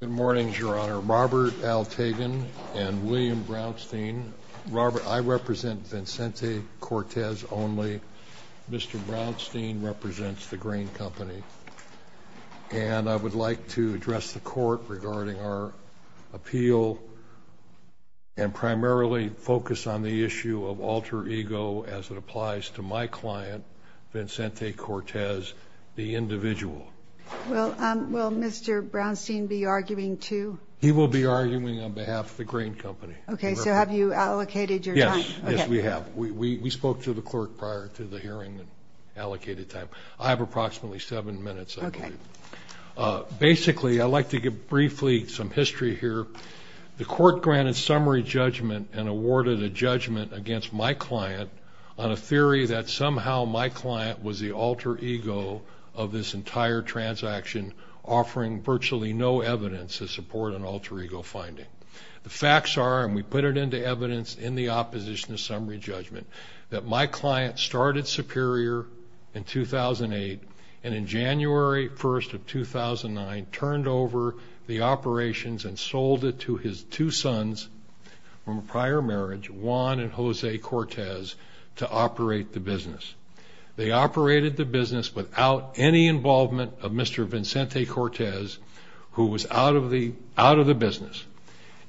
Good morning, Your Honor. Robert Altagan and William Brownstein. Robert, I represent Vicente Cortez only. Mr. Brownstein represents the Grain Company. And I would like to address the Court regarding our appeal and primarily focus on the issue of alter ego as it applies to my client, Vicente Cortez, the individual. Well, will Mr. Brownstein be arguing too? He will be arguing on behalf of the Grain Company. Okay, so have you allocated your time? Yes, yes, we have. We spoke to the clerk prior to the hearing and allocated time. I have approximately seven minutes, I believe. Okay. Basically, I'd like to give briefly some history here. The Court granted summary judgment and awarded a judgment against my client on a theory that somehow my client was the alter ego of this entire transaction, offering virtually no evidence to support an alter ego finding. The facts are, and we put it into evidence in the opposition to summary judgment, that my client started superior in 2008 and in January 1st of 2009 turned over the operations and sold it to his two sons from a prior marriage, Juan and Jose Cortez, to operate the business. They operated the business without any involvement of Mr. Vicente Cortez, who was out of the business.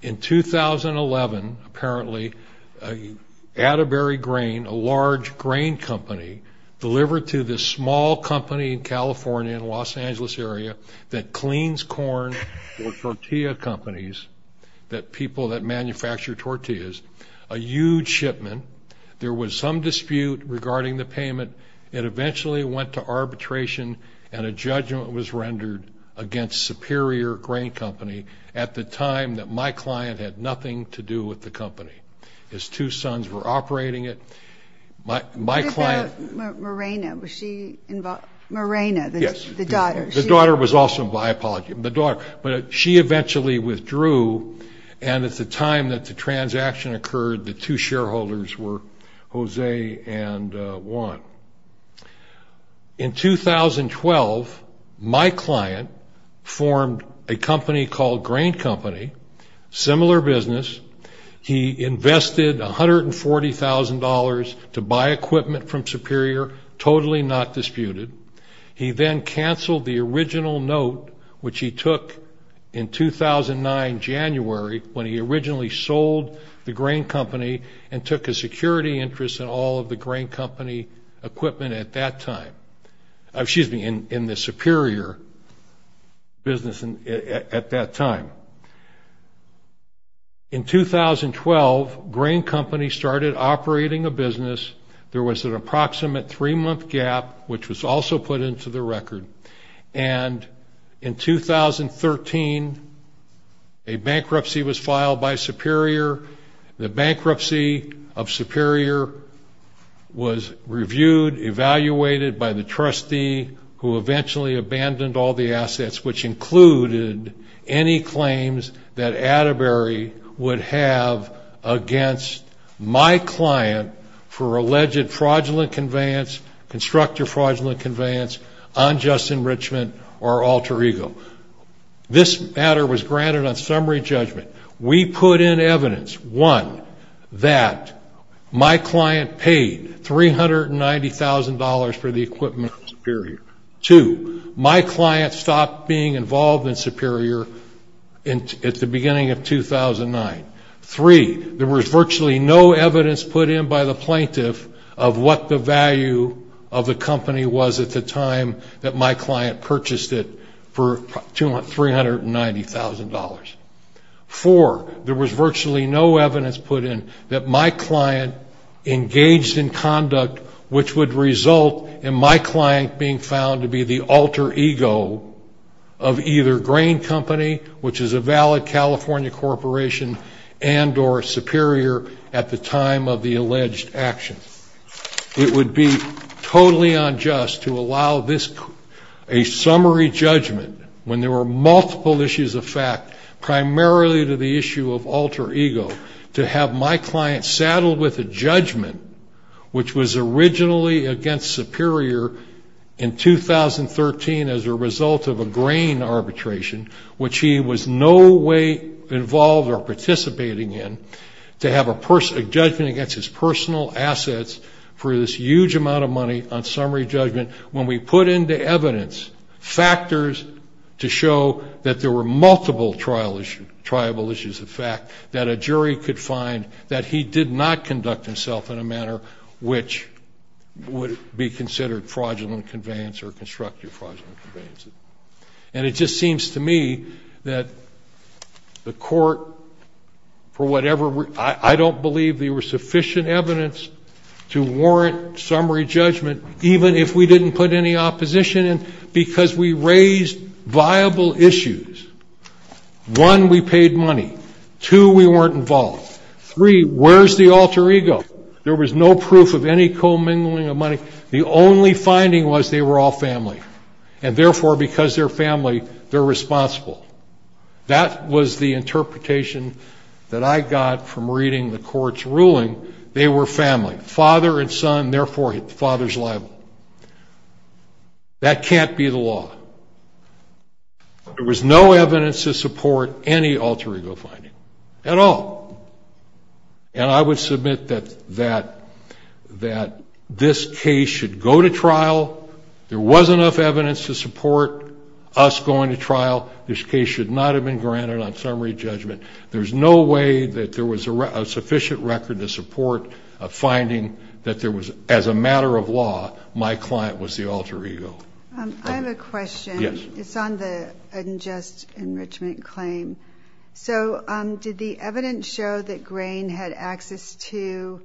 In 2011, apparently, Atterbury Grain, a large grain company, delivered to this small company in California, in the Los Angeles area, that cleans corn for tortilla companies, that people that manufacture tortillas, a huge shipment. There was some dispute regarding the payment. It eventually went to arbitration, and a judgment was rendered against Superior Grain Company at the time that my client had nothing to do with the company. His two sons were operating it. What about Morena? Was she involved? Morena, the daughter. The daughter was also involved. But she eventually withdrew, and at the time that the transaction occurred, the two shareholders were Jose and Juan. In 2012, my client formed a company called Grain Company, similar business. He invested $140,000 to buy equipment from Superior, totally not disputed. He then canceled the original note, which he took in 2009, January, when he originally sold the Grain Company and took a security interest in all of the Grain Company equipment at that time. Excuse me, in the Superior business at that time. In 2012, Grain Company started operating a business. There was an approximate three-month gap, which was also put into the record. And in 2013, a bankruptcy was filed by Superior. The bankruptcy of Superior was reviewed, evaluated by the trustee, who eventually abandoned all the assets, which included any claims that Atterbury would have against my client for alleged fraudulent conveyance, constructive fraudulent conveyance, unjust enrichment, or alter ego. This matter was granted on summary judgment. We put in evidence, one, that my client paid $390,000 for the equipment from Superior. Two, my client stopped being involved in Superior at the beginning of 2009. Three, there was virtually no evidence put in by the plaintiff of what the value of the company was at the time that my client purchased it for $390,000. Four, there was virtually no evidence put in that my client engaged in conduct which would result in my client being found to be the alter ego of either Grain Company, which is a valid California corporation, and or Superior at the time of the alleged action. It would be totally unjust to allow this, a summary judgment, when there were multiple issues of fact, primarily to the issue of alter ego, to have my client saddled with a judgment which was originally against Superior in 2013 as a result of a grain arbitration, which he was no way involved or participating in, to have a judgment against his personal assets for this huge amount of money on summary judgment, when we put into evidence factors to show that there were multiple trial issues, the fact that a jury could find that he did not conduct himself in a manner which would be considered fraudulent conveyance or constructive fraudulent conveyances. And it just seems to me that the court, for whatever reason, I don't believe there was sufficient evidence to warrant summary judgment, even if we didn't put any opposition in, because we raised viable issues. One, we paid money. Two, we weren't involved. Three, where's the alter ego? There was no proof of any commingling of money. The only finding was they were all family, and therefore, because they're family, they're responsible. That was the interpretation that I got from reading the court's ruling. They were family, father and son, therefore father's liable. That can't be the law. There was no evidence to support any alter ego finding at all. And I would submit that this case should go to trial. There was enough evidence to support us going to trial. This case should not have been granted on summary judgment. There's no way that there was a sufficient record to support a finding that there was, as a matter of law, my client was the alter ego. I have a question. Yes. It's on the unjust enrichment claim. So did the evidence show that Grain had access to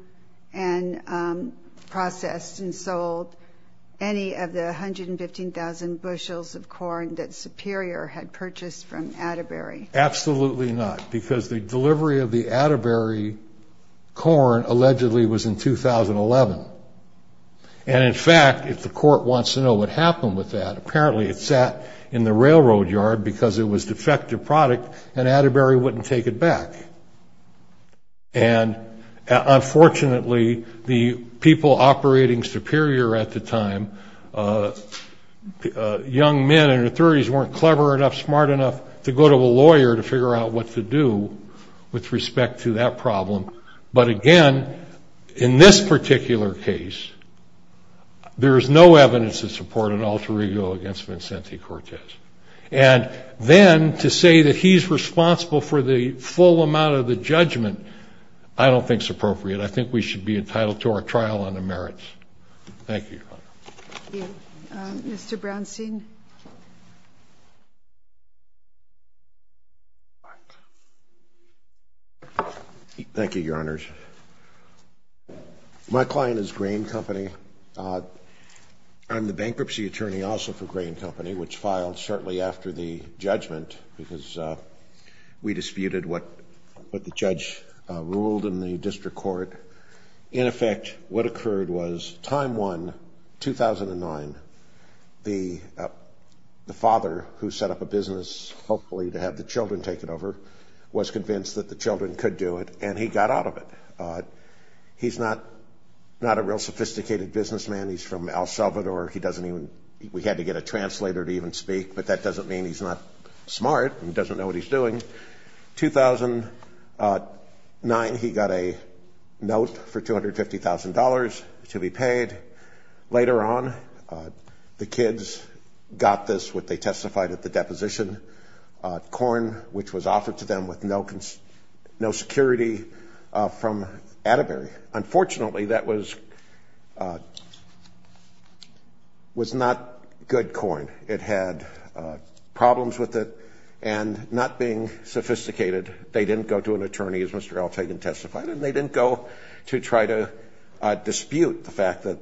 and processed and sold any of the 115,000 bushels of corn that Superior had purchased from Atterbury? Absolutely not, because the delivery of the Atterbury corn allegedly was in 2011. And, in fact, if the court wants to know what happened with that, apparently it sat in the railroad yard because it was defective product and Atterbury wouldn't take it back. And, unfortunately, the people operating Superior at the time, young men and authorities, weren't clever enough, smart enough to go to a lawyer to figure out what to do with respect to that problem. But, again, in this particular case, there is no evidence to support an alter ego against Vincente Cortez. And then to say that he's responsible for the full amount of the judgment, I don't think is appropriate. I think we should be entitled to our trial on the merits. Thank you. Thank you. Mr. Brownstein. Thank you, Your Honors. My client is Grain Company. I'm the bankruptcy attorney also for Grain Company, which filed shortly after the judgment because we disputed what the judge ruled in the district court. In effect, what occurred was time one, 2009, the owner of the company, the father who set up a business, hopefully, to have the children take it over, was convinced that the children could do it, and he got out of it. He's not a real sophisticated businessman. He's from El Salvador. He doesn't even – we had to get a translator to even speak, but that doesn't mean he's not smart and doesn't know what he's doing. 2009, he got a note for $250,000 to be paid. Later on, the kids got this, what they testified at the deposition, corn which was offered to them with no security from Atterbury. Unfortunately, that was not good corn. It had problems with it and not being sophisticated. They didn't go to an attorney, as Mr. Altagan testified, and they didn't go to try to dispute the fact that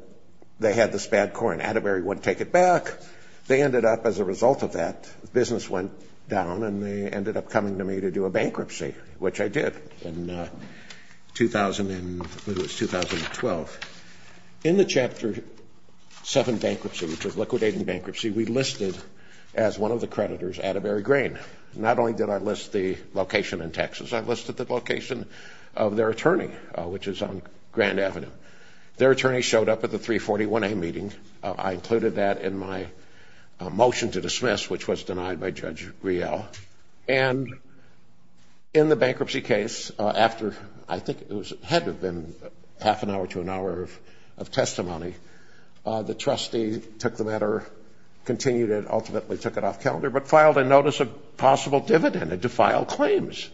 they had this bad corn. Atterbury wouldn't take it back. They ended up, as a result of that, the business went down and they ended up coming to me to do a bankruptcy, which I did in 2012. In the Chapter 7 bankruptcy, which was liquidating bankruptcy, we listed as one of the creditors Atterbury Grain. Not only did I list the location in Texas, I listed the location of their attorney, which is on Grand Avenue. Their attorney showed up at the 341A meeting. I included that in my motion to dismiss, which was denied by Judge Riel. And in the bankruptcy case, after I think it had to have been half an hour to an hour of testimony, the trustee took the matter, continued it, ultimately took it off calendar, but filed a notice of possible dividend to file claims.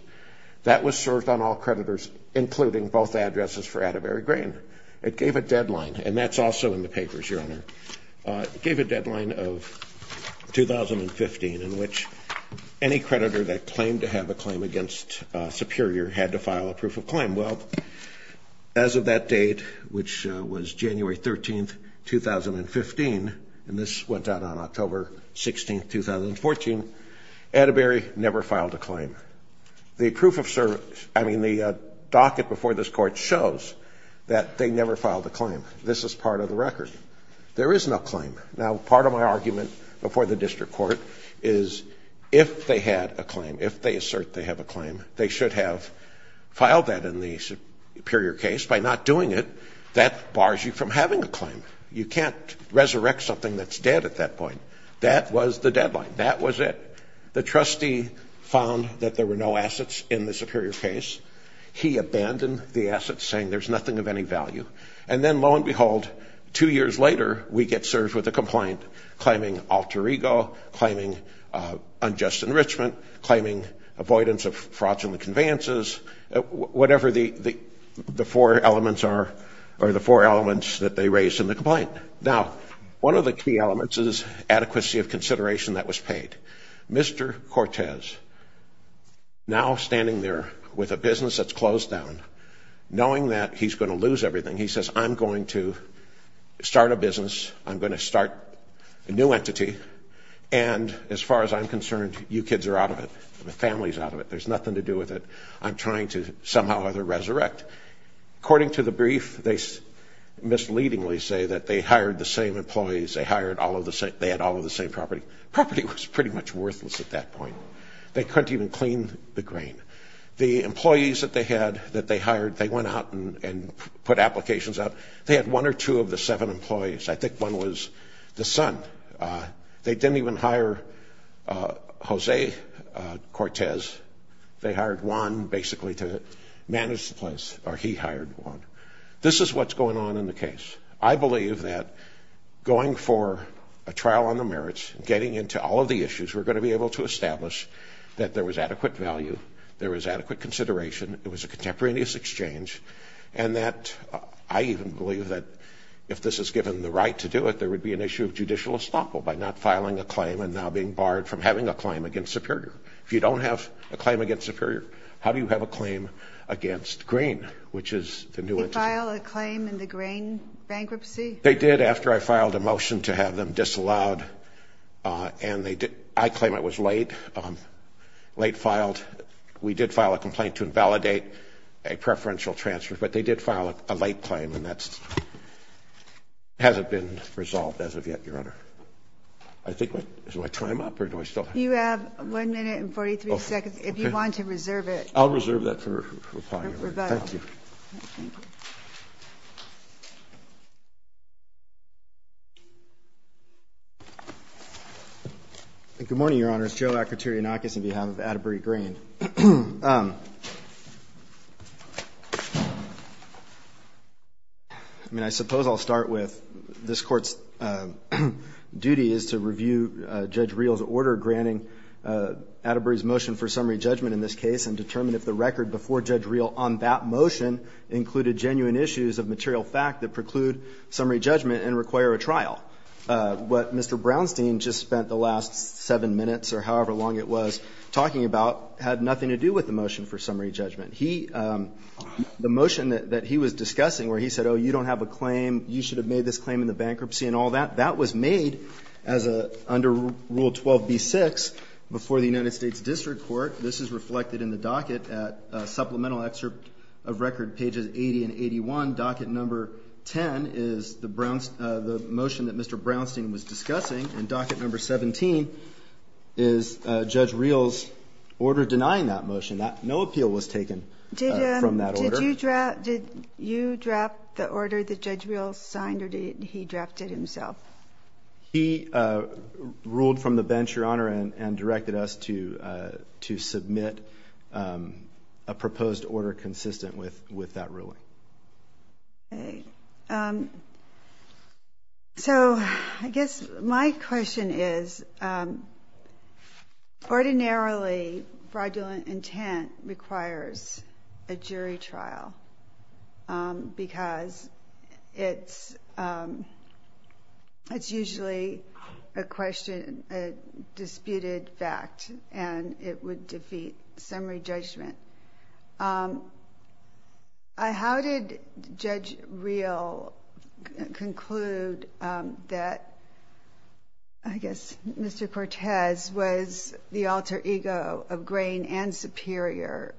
That was served on all creditors, including both addresses for Atterbury Grain. It gave a deadline, and that's also in the papers, Your Honor. It gave a deadline of 2015 in which any creditor that claimed to have a claim against Superior had to file a proof of claim. Well, as of that date, which was January 13, 2015, and this went out on October 16, 2014, Atterbury never filed a claim. The proof of service, I mean, the docket before this Court shows that they never filed a claim. This is part of the record. There is no claim. Now, part of my argument before the District Court is if they had a claim, if they assert they have a claim, they should have filed that in the Superior case. By not doing it, that bars you from having a claim. You can't resurrect something that's dead at that point. That was the deadline. That was it. The trustee found that there were no assets in the Superior case. He abandoned the assets, saying there's nothing of any value. And then, lo and behold, two years later, we get served with a complaint claiming alter ego, claiming unjust enrichment, claiming avoidance of fraudulent conveyances, whatever the four elements are or the four elements that they raised in the complaint. Now, one of the key elements is adequacy of consideration that was paid. Mr. Cortez, now standing there with a business that's closed down, knowing that he's going to lose everything, he says, I'm going to start a business. I'm going to start a new entity. And as far as I'm concerned, you kids are out of it. The family's out of it. There's nothing to do with it. I'm trying to somehow or other resurrect. According to the brief, they misleadingly say that they hired the same employees. They had all of the same property. Property was pretty much worthless at that point. They couldn't even clean the grain. The employees that they had that they hired, they went out and put applications up. They had one or two of the seven employees. I think one was the son. They didn't even hire Jose Cortez. They hired Juan, basically, to manage the place, or he hired Juan. This is what's going on in the case. I believe that going for a trial on the merits, getting into all of the issues, we're going to be able to establish that there was adequate value, there was adequate consideration, it was a contemporaneous exchange, and that I even believe that if this is given the right to do it, there would be an issue of judicial estoppel by not filing a claim and now being barred from having a claim against Superior. If you don't have a claim against Superior, how do you have a claim against Green, which is the new entity? Did they file a claim in the Grain bankruptcy? They did after I filed a motion to have them disallowed, and I claim it was late, late filed. We did file a complaint to invalidate a preferential transfer, but they did file a late claim, and that hasn't been resolved as of yet, Your Honor. Do I time up or do I still have time? You have one minute and 43 seconds if you want to reserve it. I'll reserve that for replying. Thank you. Thank you. Good morning, Your Honors. Joe Akutirianakis on behalf of Atterbury Grain. I mean, I suppose I'll start with this Court's duty is to review Judge Reel's order granting Atterbury's motion for summary judgment in this case and determine if the record before Judge Reel on that motion included genuine issues of material fact that preclude summary judgment and require a trial. What Mr. Brownstein just spent the last seven minutes or however long it was talking about had nothing to do with the motion for summary judgment. The motion that he was discussing where he said, oh, you don't have a claim, you should have made this claim in the bankruptcy and all that, that was made under Rule 12b-6 before the United States District Court. This is reflected in the docket at supplemental excerpt of record pages 80 and 81. Docket number 10 is the motion that Mr. Brownstein was discussing, and docket number 17 is Judge Reel's order denying that motion. No appeal was taken from that order. Did you draft the order that Judge Reel signed or did he draft it himself? He ruled from the bench, Your Honor, and directed us to submit a proposed order consistent with that ruling. Okay. So I guess my question is ordinarily fraudulent intent requires a jury trial because it's usually a disputed fact and it would defeat summary judgment. How did Judge Reel conclude that, I guess, Mr. Cortez was the alter ego of Grain and Superior?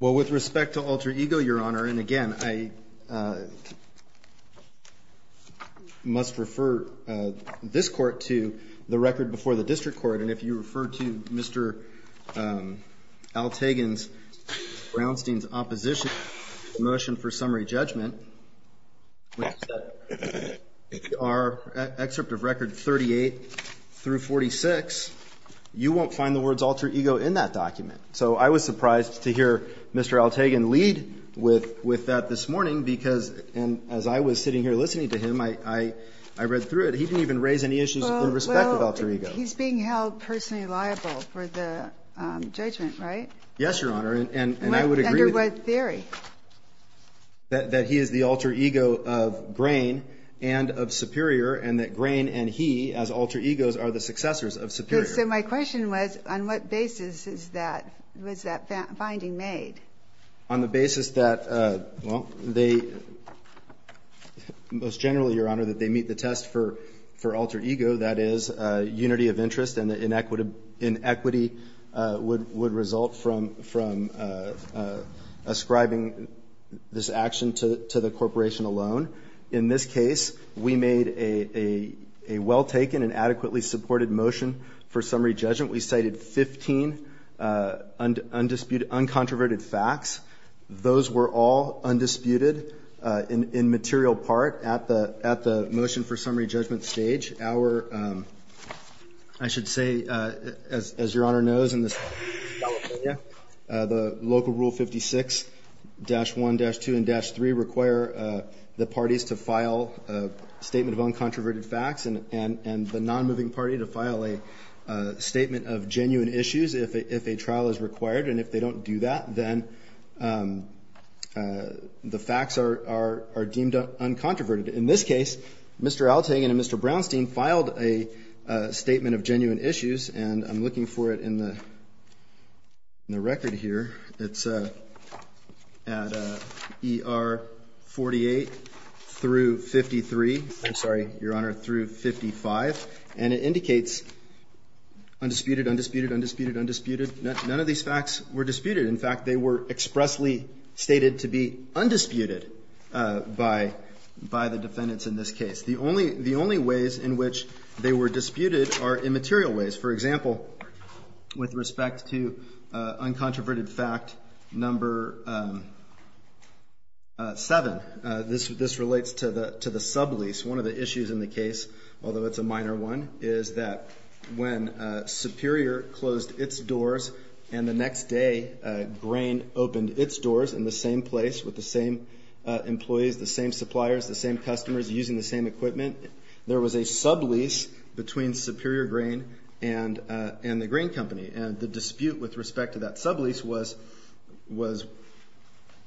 Well, with respect to alter ego, Your Honor, and again, I must refer this Court to the record before the District Court, and if you refer to Mr. Altagan's Brownstein's opposition motion for summary judgment, our excerpt of record 38 through 46, you won't find the words alter ego in that document. So I was surprised to hear Mr. Altagan lead with that this morning because, and as I was sitting here listening to him, I read through it. He didn't even raise any issues in respect of alter ego. He's being held personally liable for the judgment, right? Yes, Your Honor, and I would agree with that. Under what theory? That he is the alter ego of Grain and of Superior, and that Grain and he as alter egos are the successors of Superior. So my question was, on what basis was that finding made? On the basis that, well, most generally, Your Honor, that they meet the test for alter ego, that is unity of interest and that inequity would result from ascribing this action to the corporation alone. In this case, we made a well-taken and adequately supported motion for summary judgment. We cited 15 undisputed, uncontroverted facts. Those were all undisputed in material part at the motion for summary judgment stage. Our, I should say, as Your Honor knows, in this California, the local rule 56-1,-2, and-3 require the parties to file a statement of uncontroverted facts and the non-moving party to file a statement of genuine issues if a trial is required, and if they don't do that, then the facts are deemed uncontroverted. In this case, Mr. Altagan and Mr. Brownstein filed a statement of genuine issues, and I'm looking for it in the record here. It's at ER 48 through 53, I'm sorry, Your Honor, through 55, and it indicates undisputed, undisputed, undisputed, undisputed. None of these facts were disputed. In fact, they were expressly stated to be undisputed by the defendants in this case. The only ways in which they were disputed are immaterial ways. For example, with respect to uncontroverted fact number 7, this relates to the sublease. One of the issues in the case, although it's a minor one, is that when Superior closed its doors and the next day Grain opened its doors in the same place with the same employees, the same suppliers, the same customers using the same equipment, there was a sublease between Superior Grain and the Grain Company, and the dispute with respect to that sublease was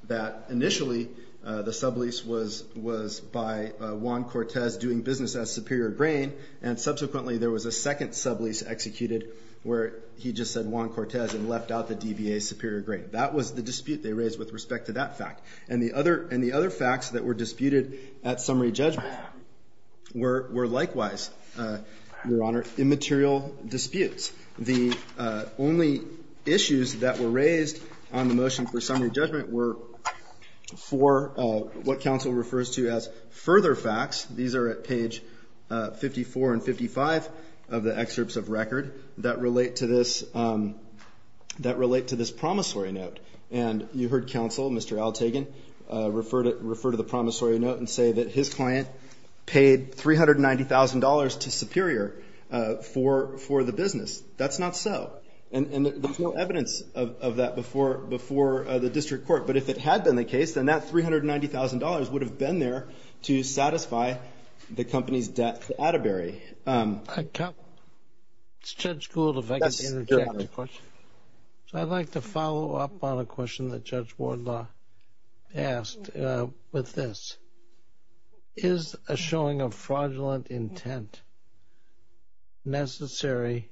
that initially the sublease was by Juan Cortez doing business as Superior Grain, and subsequently there was a second sublease executed where he just said Juan Cortez and left out the DBA Superior Grain. That was the dispute they raised with respect to that fact. And the other facts that were disputed at summary judgment were likewise, Your Honor, immaterial disputes. The only issues that were raised on the motion for summary judgment were for what counsel refers to as further facts. These are at page 54 and 55 of the excerpts of record that relate to this promissory note. And you heard counsel, Mr. Altagan, refer to the promissory note and say that his client paid $390,000 to Superior for the business. That's not so, and there's no evidence of that before the district court. But if it had been the case, then that $390,000 would have been there to satisfy the company's debt to Atterbury. It's Judge Gould, if I could interject a question. I'd like to follow up on a question that Judge Wardlaw asked with this. Is a showing of fraudulent intent necessary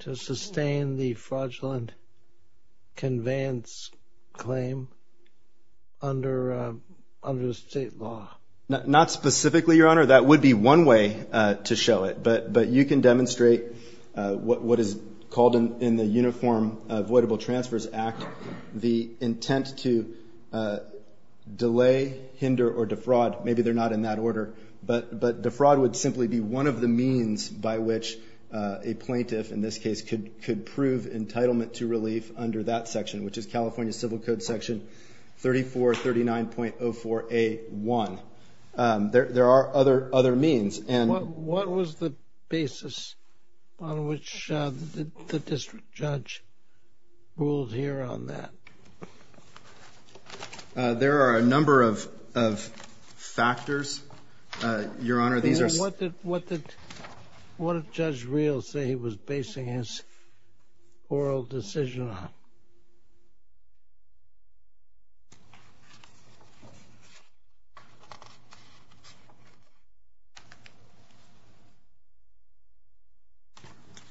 to sustain the fraudulent conveyance claim under state law? Not specifically, Your Honor. That would be one way to show it. But you can demonstrate what is called in the Uniform Avoidable Transfers Act the intent to delay, hinder, or defraud. Maybe they're not in that order. But defraud would simply be one of the means by which a plaintiff, in this case, could prove entitlement to relief under that section, which is California Civil Code Section 3439.04a.1. There are other means. What was the basis on which the district judge ruled here on that? There are a number of factors, Your Honor. What did Judge Rios say he was basing his oral decision on?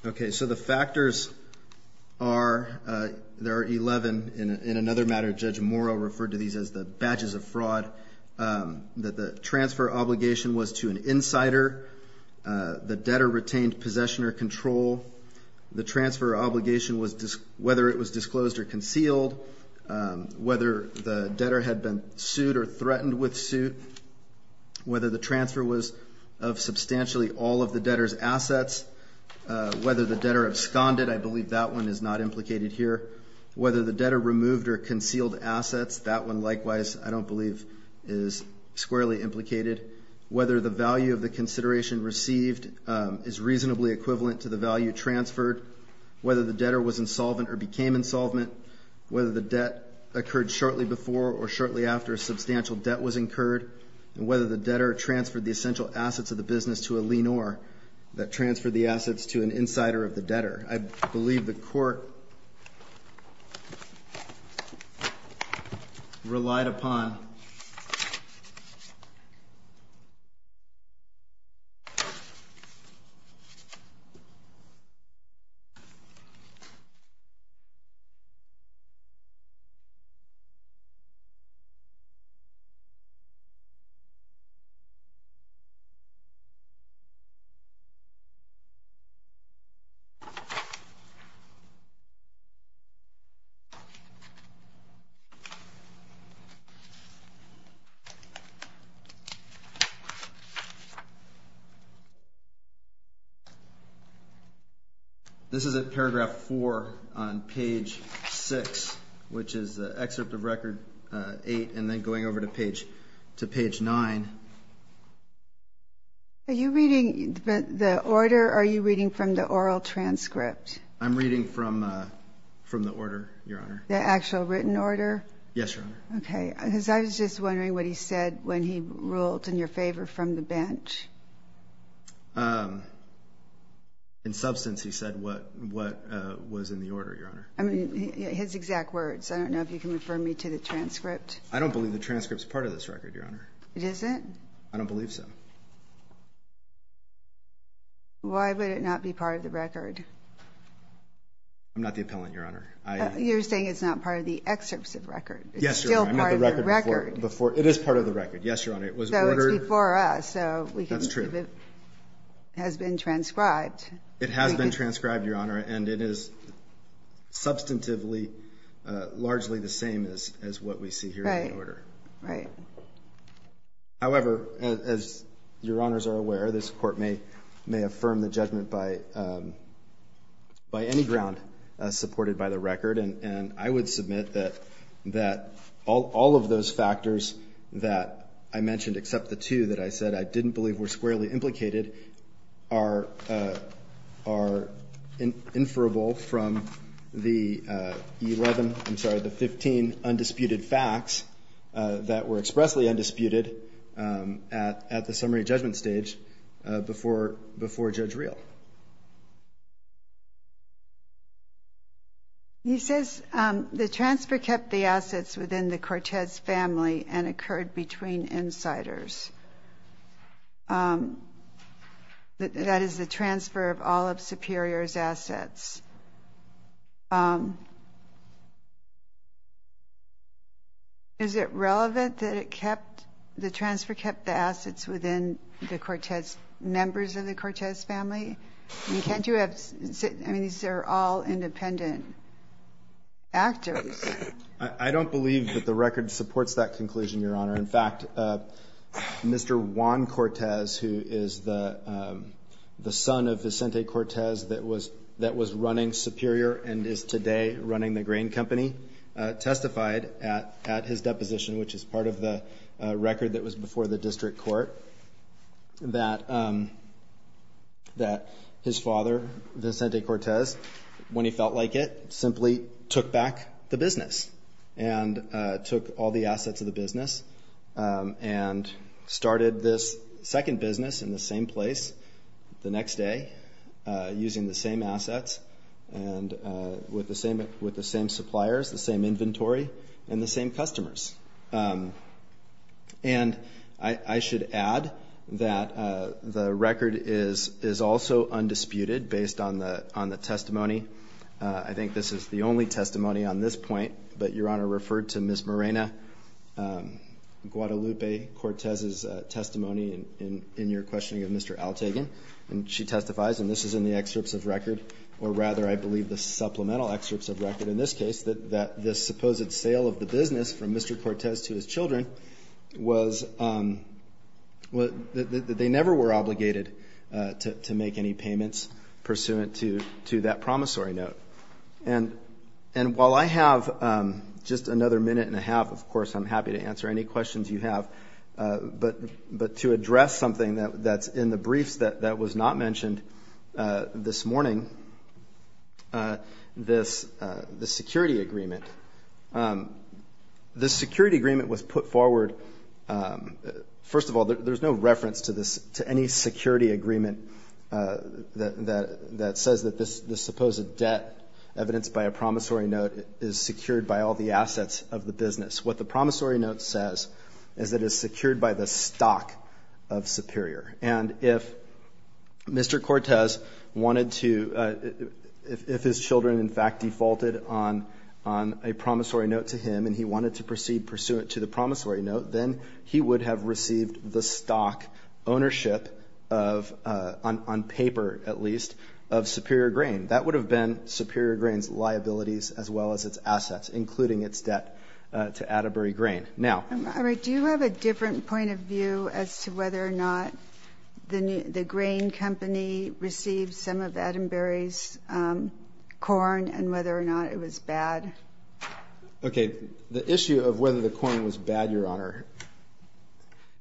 Okay, so the factors are there are 11. In another matter, Judge Morrow referred to these as the badges of fraud. The transfer obligation was to an insider. The debtor retained possession or control. The transfer obligation was whether it was disclosed or concealed. Whether the debtor had been sued or threatened with suit. Whether the transfer was of substantially all of the debtor's assets. Whether the debtor absconded. I believe that one is not implicated here. Whether the debtor removed or concealed assets. That one, likewise, I don't believe is squarely implicated. Whether the value of the consideration received is reasonably equivalent to the value transferred. Whether the debtor was insolvent or became insolvent. Whether the debt occurred shortly before or shortly after a substantial debt was incurred. And whether the debtor transferred the essential assets of the business to a lienor that transferred the assets to an insider of the debtor. I believe the court relied upon. This is at paragraph 4 on page 6, which is the excerpt of record 8 and then going over to page 9. Are you reading the order or are you reading from the oral transcript? I'm reading from the order, Your Honor. The actual written order? Yes, Your Honor. Okay. Because I was just wondering what he said when he ruled in your favor from the bench. In substance, he said what was in the order, Your Honor. I mean, his exact words. I don't know if you can refer me to the transcript. I don't believe the transcript is part of this record, Your Honor. It isn't? I don't believe so. Why would it not be part of the record? I'm not the appellant, Your Honor. You're saying it's not part of the excerpts of record. Yes, Your Honor. It's still part of the record. It is part of the record. Yes, Your Honor. It was ordered. So it's before us. That's true. So we can see if it has been transcribed. It has been transcribed, Your Honor, and it is substantively largely the same as what we see here in the order. Right. However, as Your Honors are aware, this Court may affirm the judgment by any ground supported by the record. And I would submit that all of those factors that I mentioned, except the two that I said I didn't believe were squarely implicated, are inferable from the 11, I'm sorry, the 15 undisputed facts that were expressly undisputed at the summary judgment stage before Judge Reel. He says the transfer kept the assets within the Cortez family and occurred between insiders. That is the transfer of all of Superior's assets. Is it relevant that it kept, the transfer kept the assets within the Cortez, members of the Cortez family? I mean, can't you have, I mean, these are all independent actors. I don't believe that the record supports that conclusion, Your Honor. In fact, Mr. Juan Cortez, who is the son of Vicente Cortez that was running Superior and is today running the grain company, testified at his deposition, which is part of the record that was before the district court, that his father, Vicente Cortez, when he felt like it, simply took back the business and took all the assets of the business and started this second business in the same place the next day using the same assets and with the same suppliers, the same inventory, and the same customers. And I should add that the record is also undisputed based on the testimony. I think this is the only testimony on this point, but Your Honor referred to Ms. Morena Guadalupe Cortez's testimony in your questioning of Mr. Altagin, and she testifies, and this is in the excerpts of record, or rather I believe the supplemental excerpts of record in this case, that this supposed sale of the business from Mr. Cortez to his children was, they never were obligated to make any payments pursuant to that promissory note. And while I have just another minute and a half, of course I'm happy to answer any questions you have, but to address something that's in the briefs that was not mentioned this morning, this security agreement, this security agreement was put forward, first of all, there's no reference to any security agreement that says that this supposed debt evidenced by a promissory note is secured by all the assets of the business. What the promissory note says is that it's secured by the stock of Superior. And if Mr. Cortez wanted to, if his children in fact defaulted on a promissory note to him and he wanted to proceed pursuant to the promissory note, then he would have received the stock ownership of, on paper at least, of Superior Grain. That would have been Superior Grain's liabilities as well as its assets, including its debt to Atterbury Grain. Do you have a different point of view as to whether or not the grain company received some of Atterbury's corn and whether or not it was bad? Okay, the issue of whether the corn was bad, Your Honor,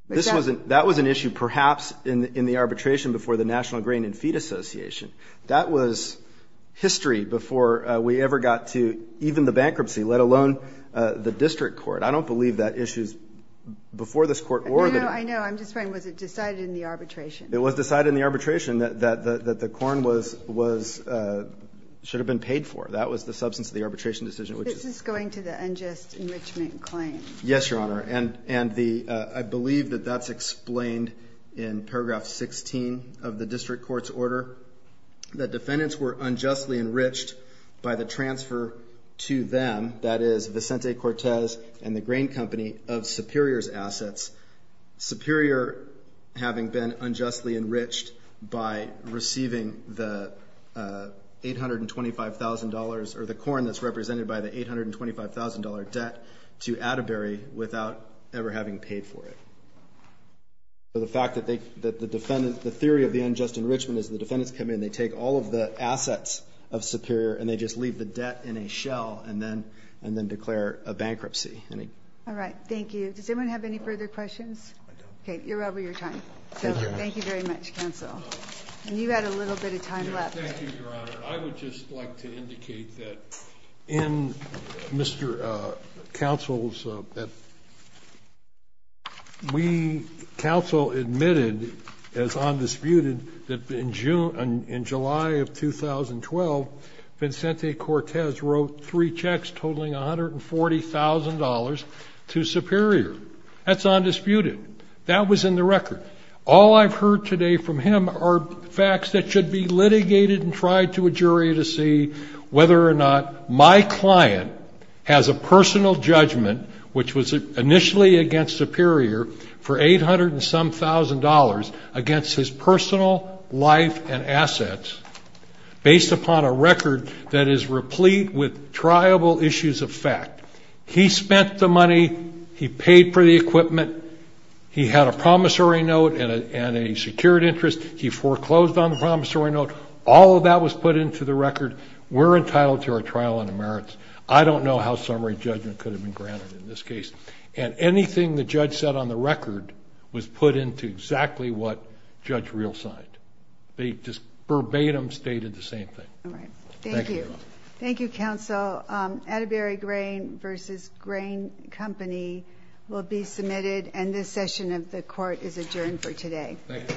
that was an issue perhaps in the arbitration before the National Grain and Feed Association. That was history before we ever got to even the bankruptcy, let alone the district court. I don't believe that issue is before this court. No, no, I know. I'm just wondering, was it decided in the arbitration? It was decided in the arbitration that the corn should have been paid for. That was the substance of the arbitration decision. This is going to the unjust enrichment claim. Yes, Your Honor. And I believe that that's explained in paragraph 16 of the district court's order, that defendants were unjustly enriched by the transfer to them, that is, Vicente Cortez and the grain company, of Superior's assets, Superior having been unjustly enriched by receiving the $825,000, or the corn that's represented by the $825,000 debt, to Atterbury without ever having paid for it. The theory of the unjust enrichment is the defendants come in, they take all of the assets of Superior, and they just leave the debt in a shell and then declare a bankruptcy. All right, thank you. Does anyone have any further questions? Okay, you're over your time. Thank you very much, counsel. And you had a little bit of time left. Thank you, Your Honor. I would just like to indicate that in Mr. Counsel's, we counsel admitted as undisputed that in July of 2012, Vincente Cortez wrote three checks totaling $140,000 to Superior. That's undisputed. That was in the record. All I've heard today from him are facts that should be litigated and tried to a jury to see whether or not my client has a personal judgment, which was initially against Superior, for $800-and-some-thousand against his personal life and assets, based upon a record that is replete with triable issues of fact. He spent the money. He paid for the equipment. He had a promissory note and a secured interest. He foreclosed on the promissory note. All of that was put into the record. We're entitled to our trial on the merits. I don't know how summary judgment could have been granted in this case. And anything the judge said on the record was put into exactly what Judge Reel signed. They just verbatim stated the same thing. All right. Thank you. Thank you, counsel. So Atterbury Grain v. Grain Company will be submitted, and this session of the court is adjourned for today. Thank you. All rise.